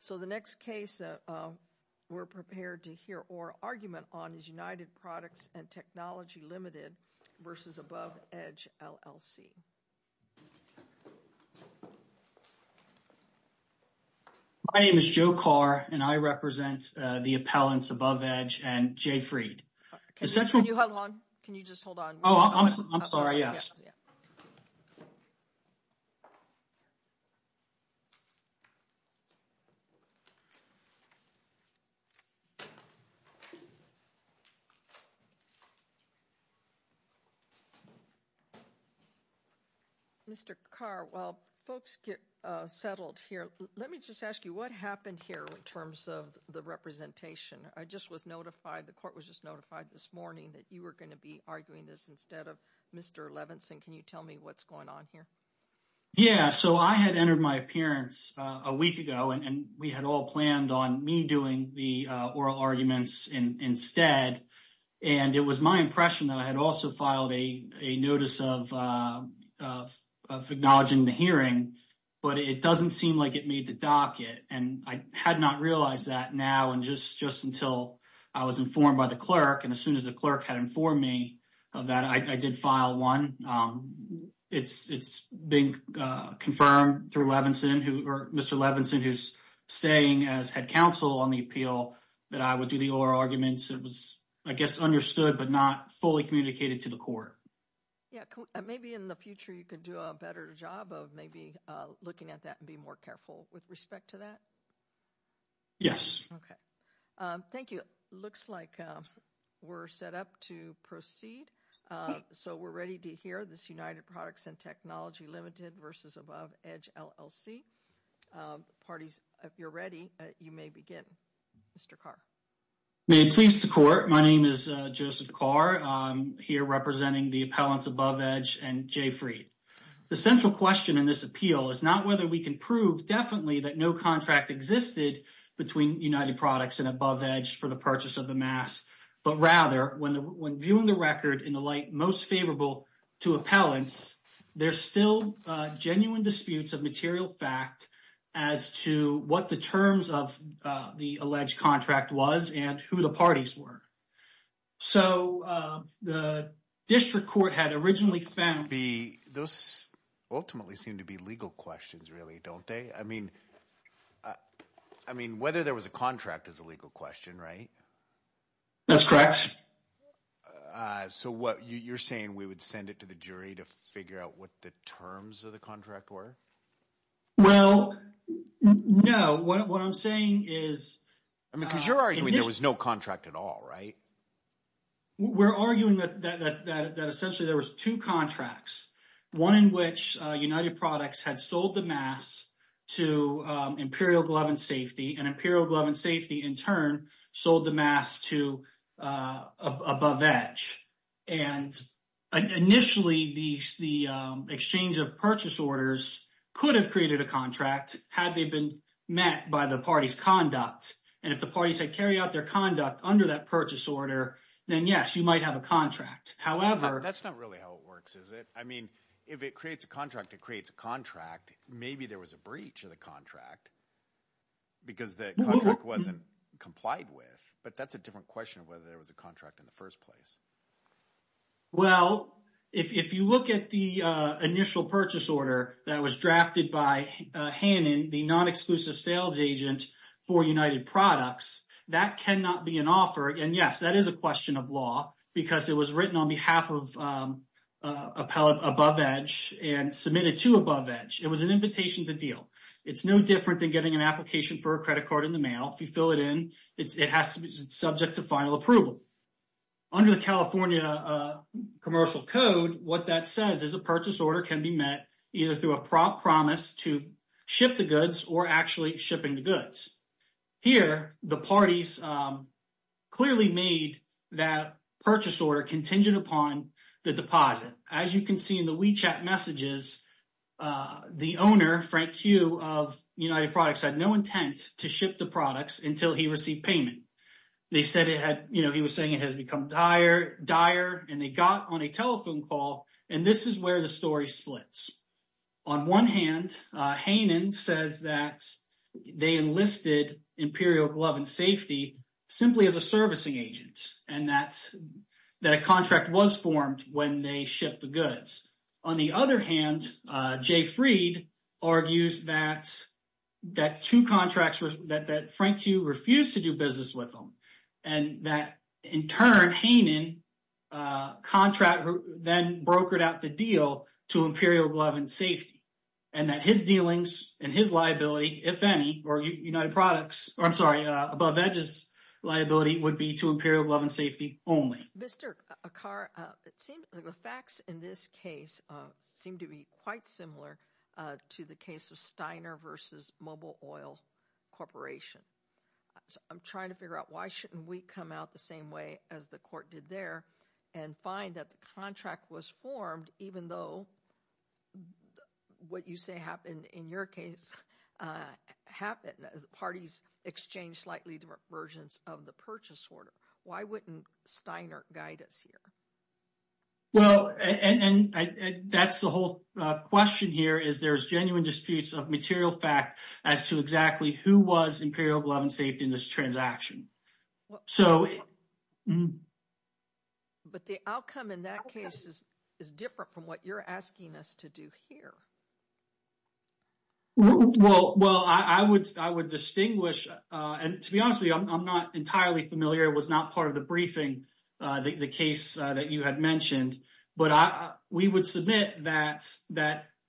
So the next case we're prepared to hear or argument on is United Products and Technology Limited versus Above Edge, LLC. My name is Joe Carr and I represent the appellants Above Edge and JFREED. Can you hold on? Can you just hold on? Oh, I'm sorry. Yes. Mr. Carr, while folks get settled here, let me just ask you what happened here in terms of the representation. I just was notified. The court was just notified this morning that you were going to be arguing this instead of Mr. Levinson. Can you tell me what's going on here? Yeah, so I had entered my appearance a week ago and we had all planned on me doing the oral arguments instead, and it was my impression that I had also filed a notice of acknowledging the hearing, but it doesn't seem like it made the docket, and I had not realized that now and just until I was informed by the clerk. And as soon as the clerk had informed me of that, I did file one. It's being confirmed through Mr. Levinson, who's saying as head counsel on the appeal that I would do the oral arguments. It was, I guess, understood, but not fully communicated to the court. Yeah, maybe in the future you could do a better job of maybe looking at that and be more careful with respect to that. Yes. Okay. Thank you. Looks like we're set up to proceed, so we're ready to hear this United Products and Technology Limited versus Above Edge LLC. Parties, if you're ready, you may begin. Mr. Carr. May it please the court. My name is Joseph Carr. I'm here representing the appellants Above Edge and J. Freed. The central question in this appeal is not whether we can prove definitely that no contract existed between United Products and Above Edge for the purchase of the mask, but rather when viewing the record in the light most favorable to appellants, there's still genuine disputes of material fact as to what the terms of the alleged contract was and who the parties were. So the district court had originally found... Those ultimately seem to be legal questions, really, don't they? I mean, whether there was a contract is a legal question, right? That's correct. So what you're saying, we would send it to the jury to figure out what the terms of the contract were? Well, no. What I'm saying is... I mean, because you're arguing there was no contract at all, right? We're arguing that essentially there was two contracts, one in which United Products had sold the mask to Imperial Glove and Safety, and Imperial Glove and Safety, in turn, sold the mask to Above Edge. And initially, the exchange of purchase orders could have created a contract had they been met by the party's conduct. And if the parties had carried out their conduct under that purchase order, then yes, you might have a contract. However... It's a different question of whether there was a contract in the first place. Well, if you look at the initial purchase order that was drafted by Hannon, the non-exclusive sales agent for United Products, that cannot be an offer. And yes, that is a question of law, because it was written on behalf of Above Edge and submitted to Above Edge. It was an invitation to deal. It's no different than getting an application for a credit card in the mail. If you fill it in, it has to be subject to final approval. Under the California Commercial Code, what that says is a purchase order can be met either through a promise to ship the goods or actually shipping the goods. Here, the parties clearly made that purchase order contingent upon the deposit. As you can see in the WeChat messages, the owner, Frank Q. of United Products, had no intent to ship the products until he received payment. He was saying it had become dire, and they got on a telephone call, and this is where the story splits. On one hand, Hannon says that they enlisted Imperial Glove & Safety simply as a servicing agent, and that a contract was formed when they shipped the goods. On the other hand, Jay Freed argues that Frank Q. refused to do business with them, and that in turn, Hannon's contract then brokered out the deal to Imperial Glove & Safety, and that his dealings and his liability, if any, or United Products, I'm sorry, Above Edge's liability would be to Imperial Glove & Safety only. Mr. Akkar, it seems like the facts in this case seem to be quite similar to the case of Steiner v. Mobile Oil Corporation. I'm trying to figure out why shouldn't we come out the same way as the court did there and find that the contract was formed even though what you say happened in your case happened. Parties exchanged slightly different versions of the purchase order. Why wouldn't Steiner guide us here? Well, and that's the whole question here is there's genuine disputes of material fact as to exactly who was Imperial Glove & Safety in this transaction. But the outcome in that case is different from what you're asking us to do here. Well, I would distinguish, and to be honest with you, I'm not entirely familiar, was not part of the briefing, the case that you had mentioned, but we would submit that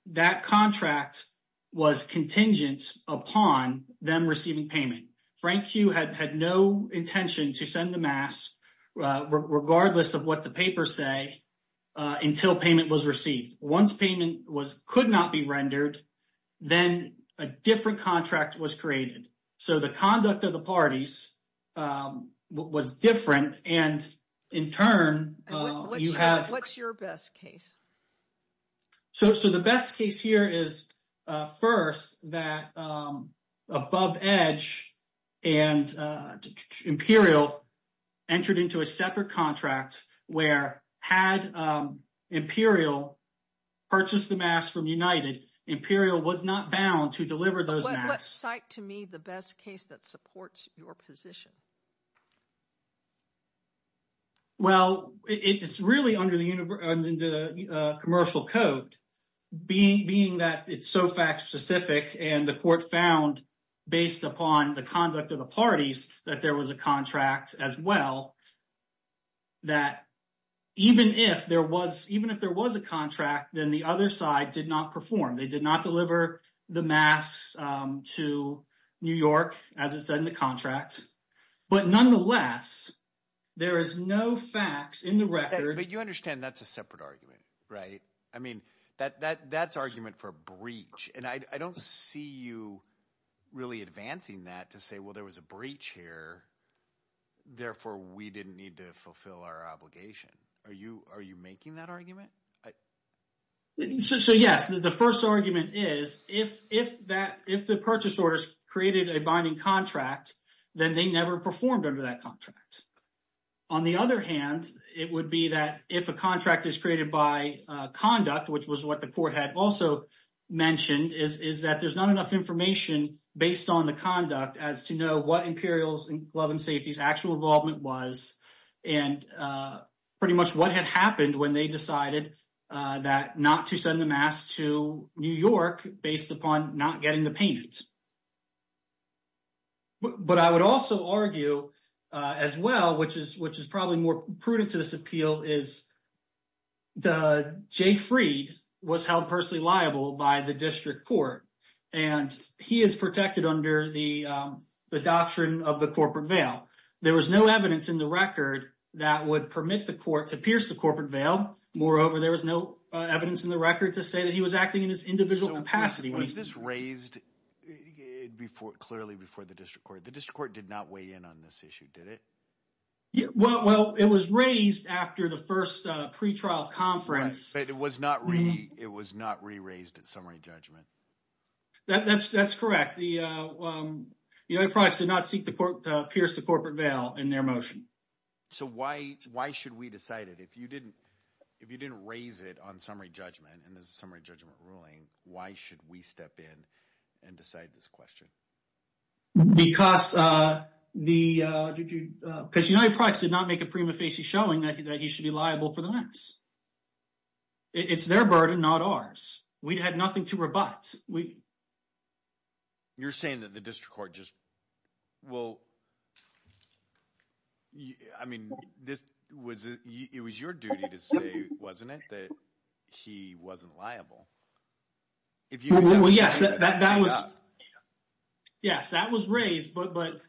that contract was contingent upon them receiving payment. Frank Q had no intention to send the regardless of what the papers say until payment was received. Once payment could not be rendered, then a different contract was created. So the conduct of the parties was different, and in turn, you have... What's your best case? So the best case here is first that Above Edge and Imperial entered into a separate contract where had Imperial purchased the masks from United, Imperial was not bound to deliver those masks. What's, to me, the best case that supports your position? Well, it's really under the commercial code, being that it's so fact-specific, and the court found based upon the conduct of the parties that there was a contract as well, that even if there was a contract, then the other side did not perform. They did not deliver the masks to New York, as it said in the contract, but nonetheless, there is no facts in the record... But you understand that's a separate argument, right? I mean, that's argument for breach, and I don't see you really advancing that to say, well, there was a breach here, therefore, we didn't need to fulfill our obligation. Are you making that argument? So yes, the first argument is if the purchase orders created a binding contract, then they never performed under that contract. On the other hand, it would be that if a contract is created by conduct, which was what the court had also mentioned, is that there's not enough information based on the conduct as to know what Imperial's glove and safety's actual involvement was, and pretty much what had happened when they decided not to send the masks to New York based upon not getting the paint. But I would also argue as well, which is probably more prudent to this appeal, is Jay Freed was held personally liable by the district court, and he is protected under the doctrine of the corporate veil. There was no evidence in the record that would permit the court to pierce the corporate veil. Moreover, there was no evidence in the record to say that he was acting in his individual capacity. Was this raised clearly before the district court? The district court did not weigh in on this issue, did it? Well, it was raised after the first pre-trial conference. But it was not re-raised at summary judgment. That's correct. United Products did not pierce the corporate veil in their motion. So why should we decide it? If you didn't raise it on summary judgment, and there's a summary judgment ruling, why should we step in and decide this question? Because United Products did not make a prima facie showing that he should be liable for the masks. It's their burden, not ours. We'd had nothing to rebut. You're saying that the district court just, well, I mean, it was your duty to say, wasn't it, that he wasn't liable? Well, yes, that was raised, but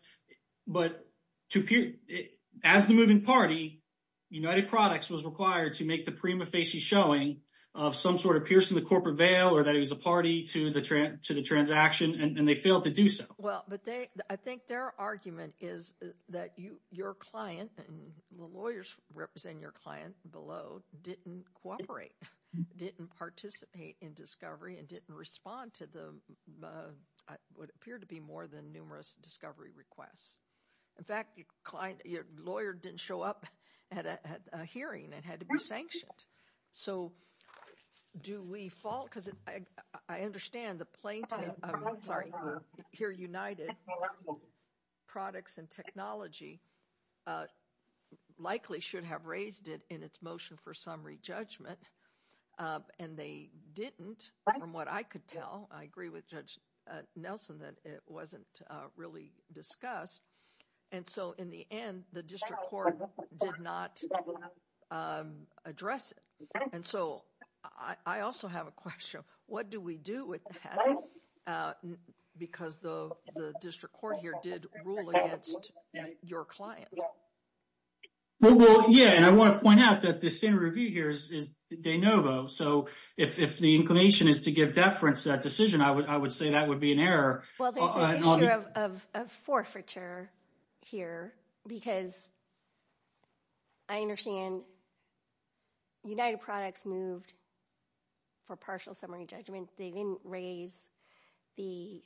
as the moving party, United Products was required to make the prima facie showing of some sort of piercing the corporate veil, or that he was a party to the transaction, and they failed to do so. Well, but I think their argument is that your client, and the lawyers represent your client below, didn't cooperate, didn't participate in discovery, and didn't respond to what appeared to be more than numerous discovery requests. In fact, your lawyer didn't show up at a hearing, and had to be sanctioned. So do we fall, because I understand the plaintiff, I'm sorry, here, United Products and Technology, likely should have raised it in its motion for summary judgment, and they didn't, from what I could tell, I agree with Judge Nelson, that it wasn't really discussed. And so, in the end, the district court did not address it. And so, I also have a question. What do we do with that? Because the district court here did rule against your client. Well, yeah, and I want to point out that the standard review here is de novo. So if the inclination is to give deference to that decision, I would say that would be an error. Well, there's an issue of forfeiture here, because I understand United Products moved for partial summary judgment. They didn't raise the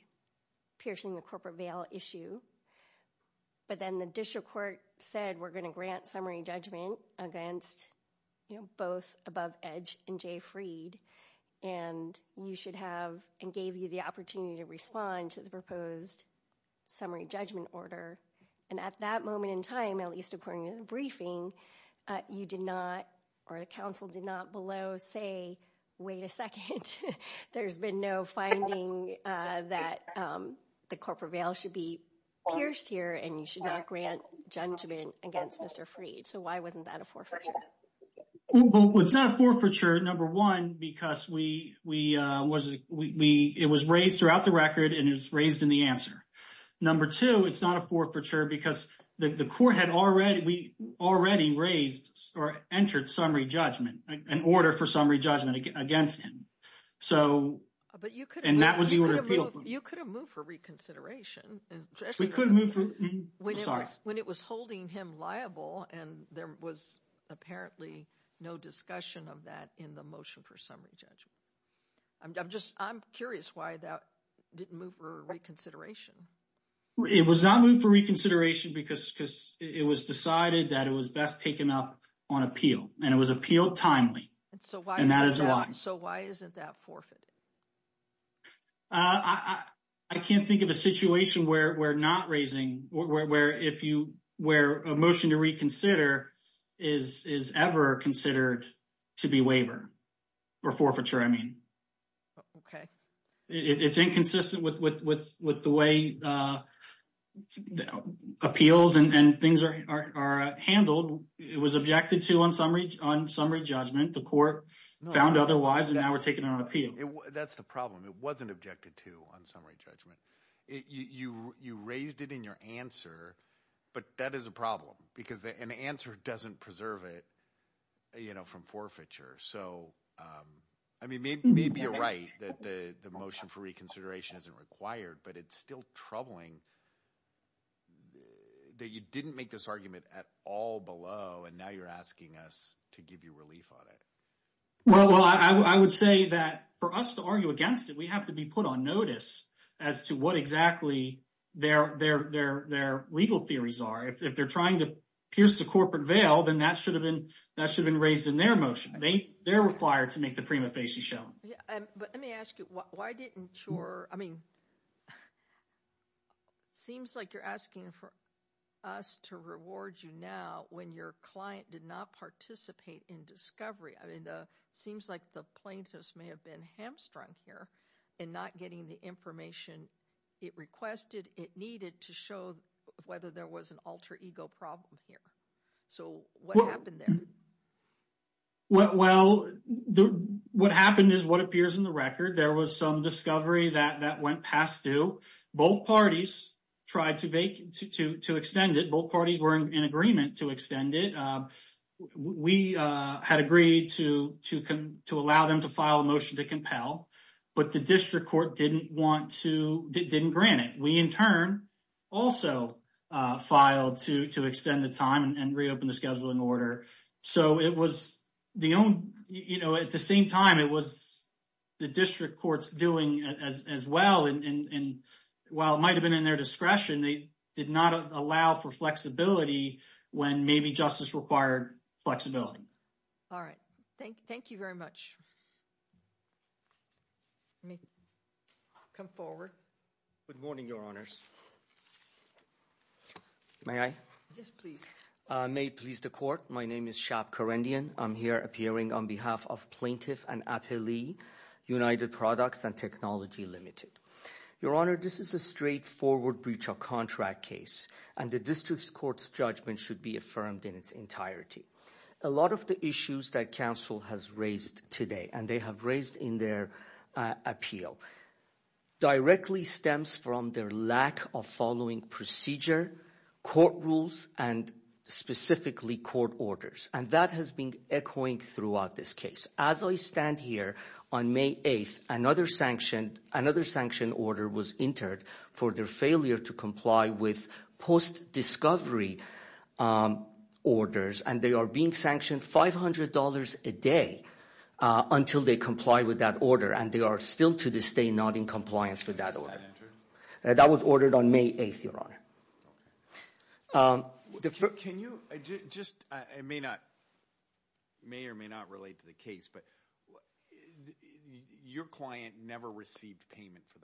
piercing the corporate veil issue. But then the district court said, we're going to grant summary judgment against, you know, Above Edge and Jay Freed, and you should have, and gave you the opportunity to respond to the proposed summary judgment order. And at that moment in time, at least according to the briefing, you did not, or the counsel did not below say, wait a second, there's been no finding that the corporate veil should be pierced here, and you should not grant judgment against Mr. Freed. So why wasn't that a forfeiture? Well, it's not a forfeiture, number one, because we, it was raised throughout the record and it was raised in the answer. Number two, it's not a forfeiture because the court had already, we already raised or entered summary judgment, an order for summary judgment against him. So, and that was the order. You could have moved for reconsideration. We could move for, I'm sorry. When it was holding him liable and there was apparently no discussion of that in the motion for summary judgment. I'm just, I'm curious why that didn't move for reconsideration. It was not moved for reconsideration because it was decided that it was best taken up on appeal and it was appealed timely. And so why isn't that forfeited? I can't think of a situation where we're not raising, where if you, where a motion to reconsider is ever considered to be waiver or forfeiture, I mean. Okay. It's inconsistent with the way appeals and things are handled. It was objected to on summary judgment. The court found otherwise, and now we're taking it on appeal. That's the problem. It wasn't objected to on summary judgment. You raised it in your answer, but that is a problem because an answer doesn't preserve it, you know, from forfeiture. So, I mean, maybe you're right that the motion for reconsideration isn't required, but it's still troubling that you didn't make this argument at all below, and now you're asking us to give you relief on it. Well, I would say that for us to argue against it, we have to be put on notice as to what exactly their legal theories are. If they're trying to pierce the corporate veil, then that should have been raised in their motion. They're required to make the prima facie shown. Yeah. But let me ask you, why didn't your, I mean, it seems like you're asking for us to reward you now when your client did not participate in discovery. I mean, it seems like the plaintiffs may have been hamstrung here in not getting the information it requested, it needed to show whether there was an alter ego problem here. So, what happened there? Well, what happened is what appears in the record. There was some discovery that went past due. Both parties tried to extend it. Both parties were in agreement to extend it. We had agreed to allow them to file a motion to compel, but the district court didn't grant it. We, in turn, also filed to extend the time and reopen the scheduling order. So, at the same time, it was the district courts doing as well. And while it might have been in their discretion, they did not allow for flexibility when maybe justice required flexibility. All right. Thank you very much. Come forward. Good morning, your honors. May I? Yes, please. May it please the court. My name is Shab Karendian. I'm here appearing on behalf of Plaintiff and Appelee United Products and Technology Limited. Your honor, this is a straightforward breach of contract case, and the district court's judgment should be affirmed in its entirety. A lot of the issues that counsel has raised today, and they have raised in their appeal, directly stems from their lack of following procedure, court rules, and specifically court orders. And that has been echoing throughout this case. As I stand here, on May 8th, another sanctioned order was entered for their failure to comply with post-discovery orders, and they are being sanctioned $500 a day until they comply with that order, and they are still to this day not in compliance with that order. That was ordered on May 8th, your honor. May or may not relate to the case, but your client never received payment for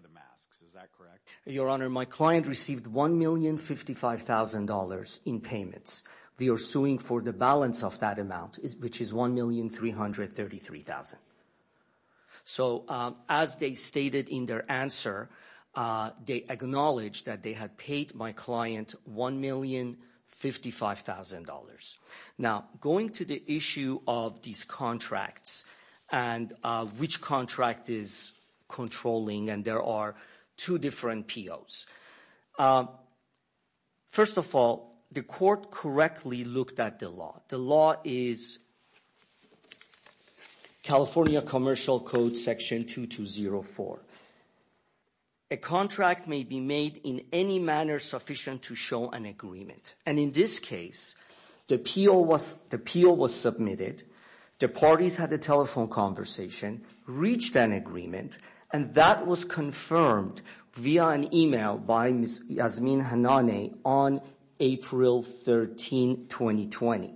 the masks. Is that correct? Your honor, my client received $1,055,000 in payments. We are suing for the balance of that amount, which is $1,333,000. So as they stated in their answer, they acknowledged that they had paid my client $1,055,000. Now, going to the issue of these contracts and which contract is controlling, and there are two different POs. First of all, the court correctly looked at the law. The law is California Commercial Code Section 2204. A contract may be made in any manner sufficient to show an agreement, and in this case, the PO was submitted, the parties had a telephone conversation, reached an agreement, and that was confirmed via an email by Ms. Yasmin Hanane on April 13, 2020.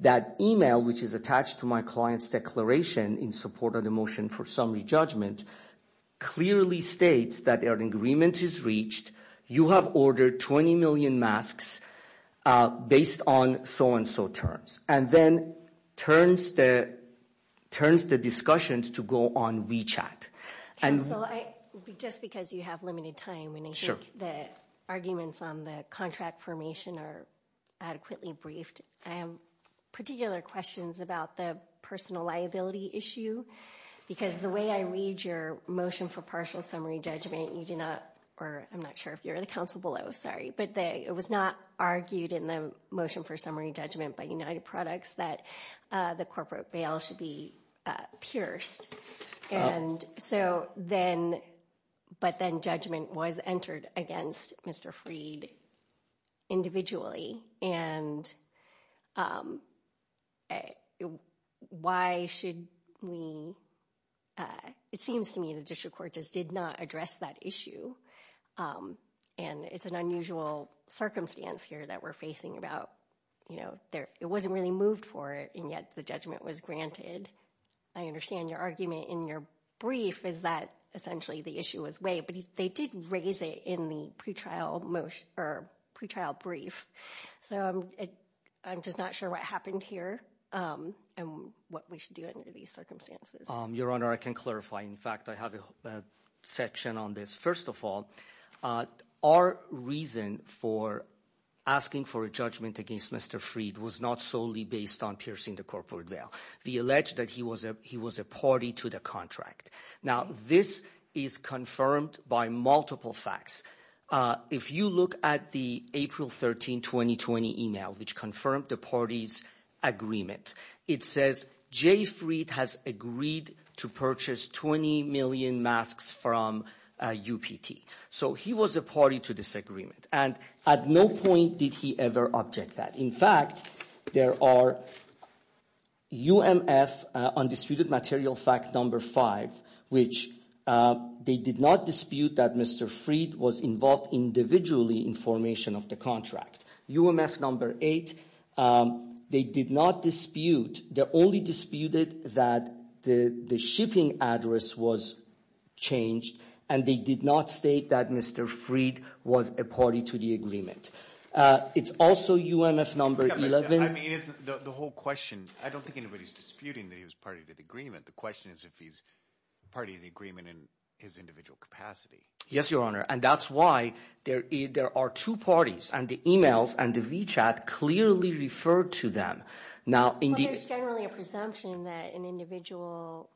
That email, which is attached to my client's declaration in support of the motion for summary judgment, clearly states that their agreement is reached. You have ordered 20 million masks based on so-and-so terms, and then turns the discussions to go on WeChat. Just because you have limited time, and I think the arguments on the contract formation are adequately briefed, I have particular questions about the personal liability issue, because the way I read your motion for partial summary judgment, you do not, or I'm not sure if you're the counsel below, sorry, but it was not argued in the motion for summary judgment by United Products that the corporate bail should be pierced, and so then, but then judgment was entered against Mr. Freed individually, and why should we, it seems to me the district court just not address that issue, and it's an unusual circumstance here that we're facing about, you know, it wasn't really moved for it, and yet the judgment was granted. I understand your argument in your brief is that essentially the issue was weighed, but they did raise it in the pretrial brief, so I'm just not sure what happened here, and what we should do under these circumstances. Your Honor, I can clarify. In fact, I have a section on this. First of all, our reason for asking for a judgment against Mr. Freed was not solely based on piercing the corporate bail. We allege that he was a party to the contract. Now, this is confirmed by multiple facts. If you look at the April 13, 2020 email, which confirmed the party's agreement, it says Jay Freed has agreed to purchase 20 million masks from UPT, so he was a party to this agreement, and at no point did he ever object that. In fact, there are UMF undisputed material fact number five, which they did not dispute that Mr. Freed was involved individually in formation of the contract. UMF number eight, they did not dispute. They only disputed that the shipping address was changed, and they did not state that Mr. Freed was a party to the agreement. It's also UMF number 11. I mean, the whole question, I don't think anybody's disputing that he was party to the agreement. The question is if he's party to the agreement in his individual capacity. Yes, your honor, and that's why there are two parties, and the emails and the WeChat clearly refer to them. Now, there's generally a presumption that an individual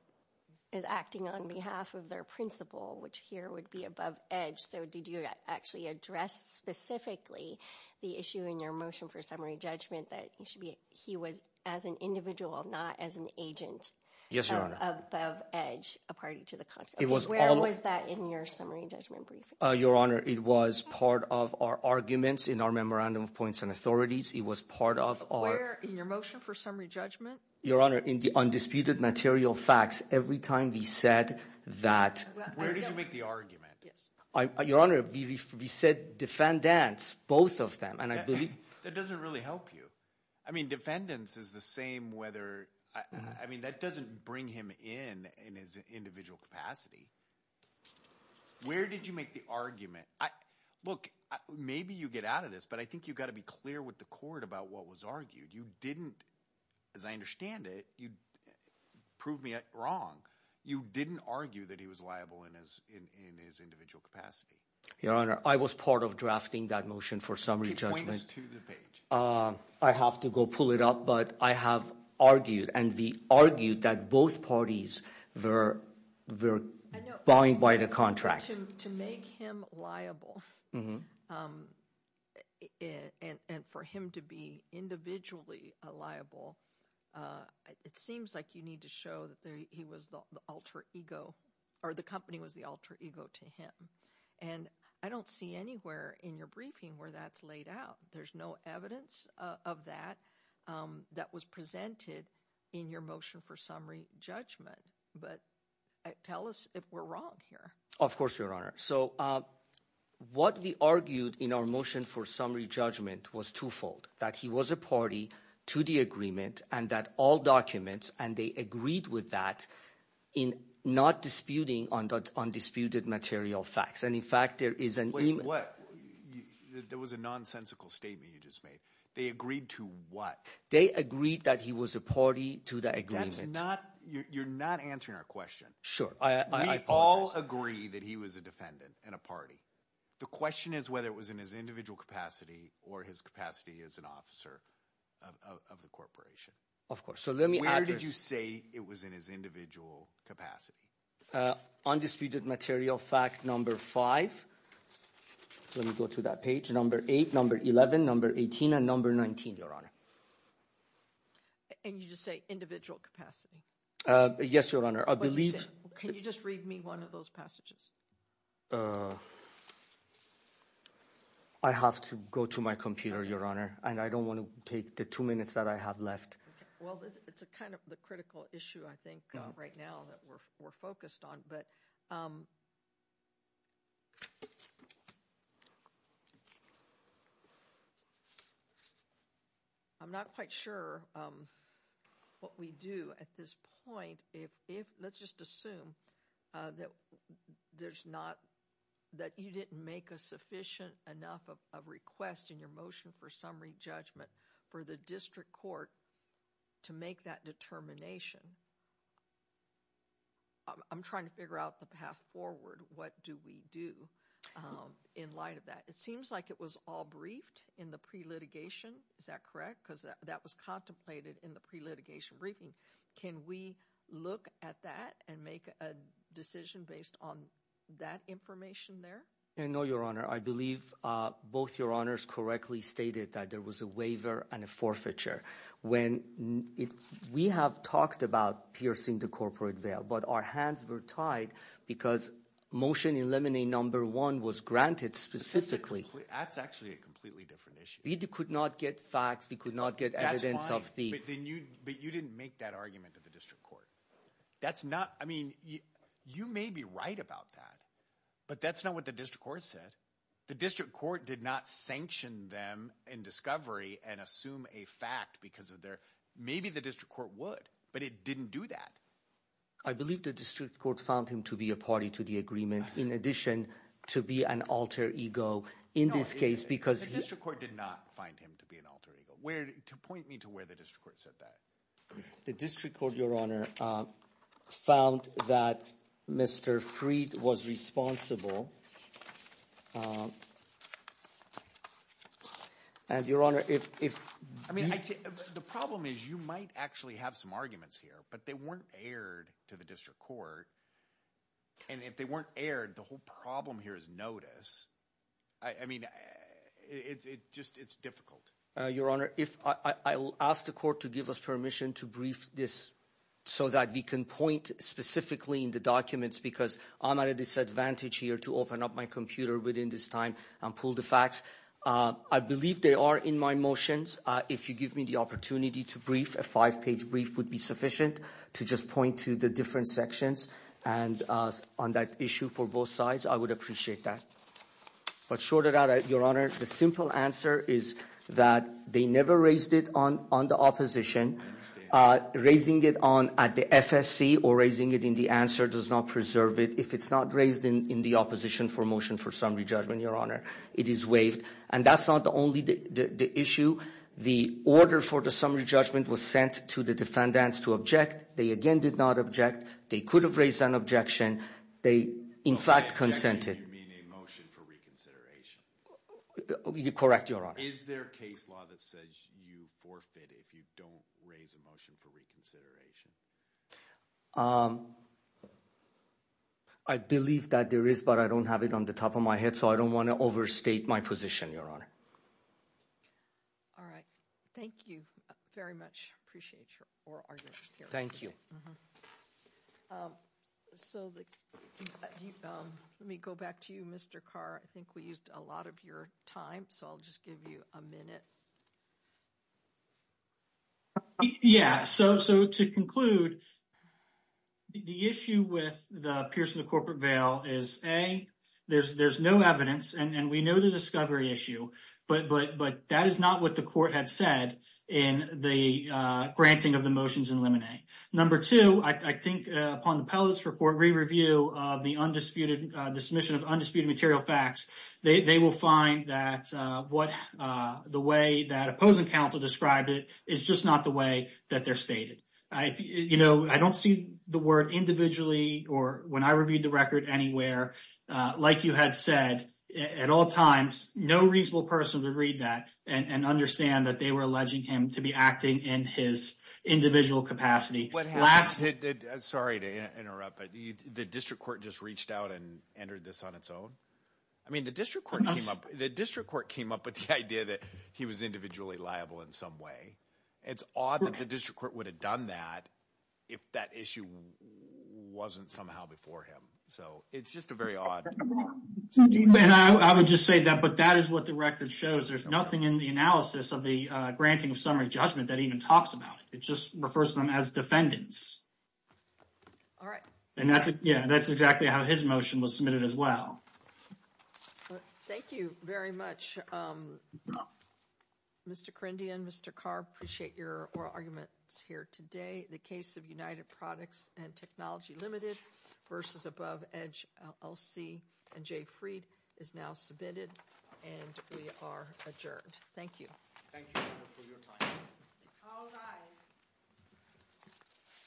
is acting on behalf of their principal, which here would be above edge, so did you actually address specifically the issue in your motion for summary judgment that he should be, he was as an individual, not as an agent? Yes, your honor. Of edge, a party to the contract. Where was that in your summary judgment briefing? Your honor, it was part of our arguments in our memorandum of points and authorities. It was part of our... Where in your motion for summary judgment? Your honor, in the undisputed material facts, every time we said that... Where did you make the argument? Your honor, we said defendants, both of them, and I believe... That doesn't really help you. I mean, defendants is the same whether, I mean, that doesn't bring him in, in his individual capacity. Where did you make the argument? Look, maybe you get out of this, but I think you've got to be clear with the court about what was argued. You didn't, as I understand it, you proved me wrong. You didn't argue that he was liable in his individual capacity. Your honor, I was part of drafting that motion for summary judgment. I have to go pull it up, but I have argued, and we argued that both parties were buying by the contract. To make him liable, and for him to be individually liable, it seems like you need to show that he was the alter ego, or the company was the alter ego to him, and I don't see anywhere in your briefing where that's laid out. There's no evidence of that that was presented in your motion for summary judgment, but tell us if we're wrong here. Of course, your honor. So what we argued in our motion for summary judgment was twofold, that he was a party to the agreement, and that all documents, and they agreed with that in not disputing on that undisputed material facts, and in fact, there is an email. There was a nonsensical statement you just made. They agreed to what? They agreed that he was a party to the agreement. That's not, you're not answering our question. Sure, I apologize. We all agree that he was a defendant in a party. The question is whether it was in his individual capacity, or his capacity as an officer of the corporation. Of course. Where did you say it was in his individual capacity? Undisputed material fact number five. Let me go to that page. Number eight, number 11, number 18, and number 19, your honor. And you just say individual capacity? Yes, your honor. Can you just read me one of those passages? I have to go to my computer, your honor, and I don't want to take the two minutes that I have Well, it's a kind of the critical issue, I think, right now that we're focused on, but I'm not quite sure what we do at this point. Let's just assume that there's not, that you didn't make a sufficient enough of a request in your motion for summary judgment for the district court to make that determination. I'm trying to figure out the path forward. What do we do in light of that? It seems like it was all briefed in the pre-litigation. Is that correct? Because that was contemplated in the pre-litigation briefing. Can we look at that and make a decision based on that information there? No, your honor. I believe both your honors correctly stated that there was a waiver and a forfeiture. We have talked about piercing the corporate veil, but our hands were tied because motion 11A, number one, was granted specifically. That's actually a completely different issue. We could not get facts. We could not get evidence of the- That's fine, but you didn't make that argument to the district court. That's not, I mean, you may be right about that, but that's not what the district court said. The district court did not sanction them in discovery and assume a fact because of their, maybe the district court would, but it didn't do that. I believe the district court found him to be a party to the agreement in addition to be an alter ego in this case because- The district court did not find him to be an alter ego. To point me to where the district court said that. The district court, your honor, found that Mr. Freed was responsible. And your honor, if- I mean, the problem is you might actually have some arguments here, but they weren't aired to the district court. And if they weren't aired, the whole problem here is notice. I mean, it's just, it's difficult. Your honor, I will ask the court to give us permission to brief this so that we can point specifically in the documents because I'm at a disadvantage here to open up my computer within this time and pull the facts. I believe they are in my motions. If you give me the opportunity to brief, a five page brief would be sufficient to just point to the different sections and on that issue for both sides, I would appreciate that. But short of that, your honor, the simple answer is that they never raised it on the opposition. Raising it on at the FSC or raising it in the answer does not preserve it. If it's not raised in the opposition for motion for summary judgment, your honor, it is waived. And that's not the only issue. The order for the summary judgment was sent to the defendants to object. They again did not object. They could have raised an objection. They, in fact, consented. You mean a motion for reconsideration? You're correct, your honor. Is there a case law that says you forfeit if you don't raise a motion for reconsideration? I believe that there is, but I don't have it on the top of my head, so I don't want to overstate my position, your honor. All right. Thank you very much. I appreciate your argument. Thank you. So, let me go back to you, Mr. Carr. I think we used a lot of your time, so I'll just give you a minute. Yeah, so to conclude, the issue with the Pierce v. Corporate Vale is, A, there's no evidence, and we know the discovery issue, but that is not what the court had said in the granting of the motions in Lemonet. Number two, I think, upon the Pellett's report, re-review of the undisputed, the submission of undisputed material facts, they will find that what the way that opposing counsel described it is just not the way that they're stated. You know, I don't see the word individually or when I reviewed the record anywhere, like you had said, at all times, no reasonable person to read that and understand that they were alleging him to be acting in his individual capacity. Sorry to interrupt, but the district court just reached out and entered this on its own? I mean, the district court came up with the idea that he was individually liable in some way. It's odd that the district court would have done that if that issue wasn't somehow before him. So, it's just a very odd. I would just say that, but that is what the record shows. There's nothing in the analysis of the granting of summary judgment that even talks about it. It just refers to them as defendants. All right. And that's, yeah, that's exactly how his motion was submitted as well. Thank you very much, Mr. Kerindi and Mr. Carr. Appreciate your oral arguments here today. The case of United Products and Technology Limited versus Above Edge LC and Jay Freed is now submitted and we are adjourned. Thank you. Thank you for your time. All rise.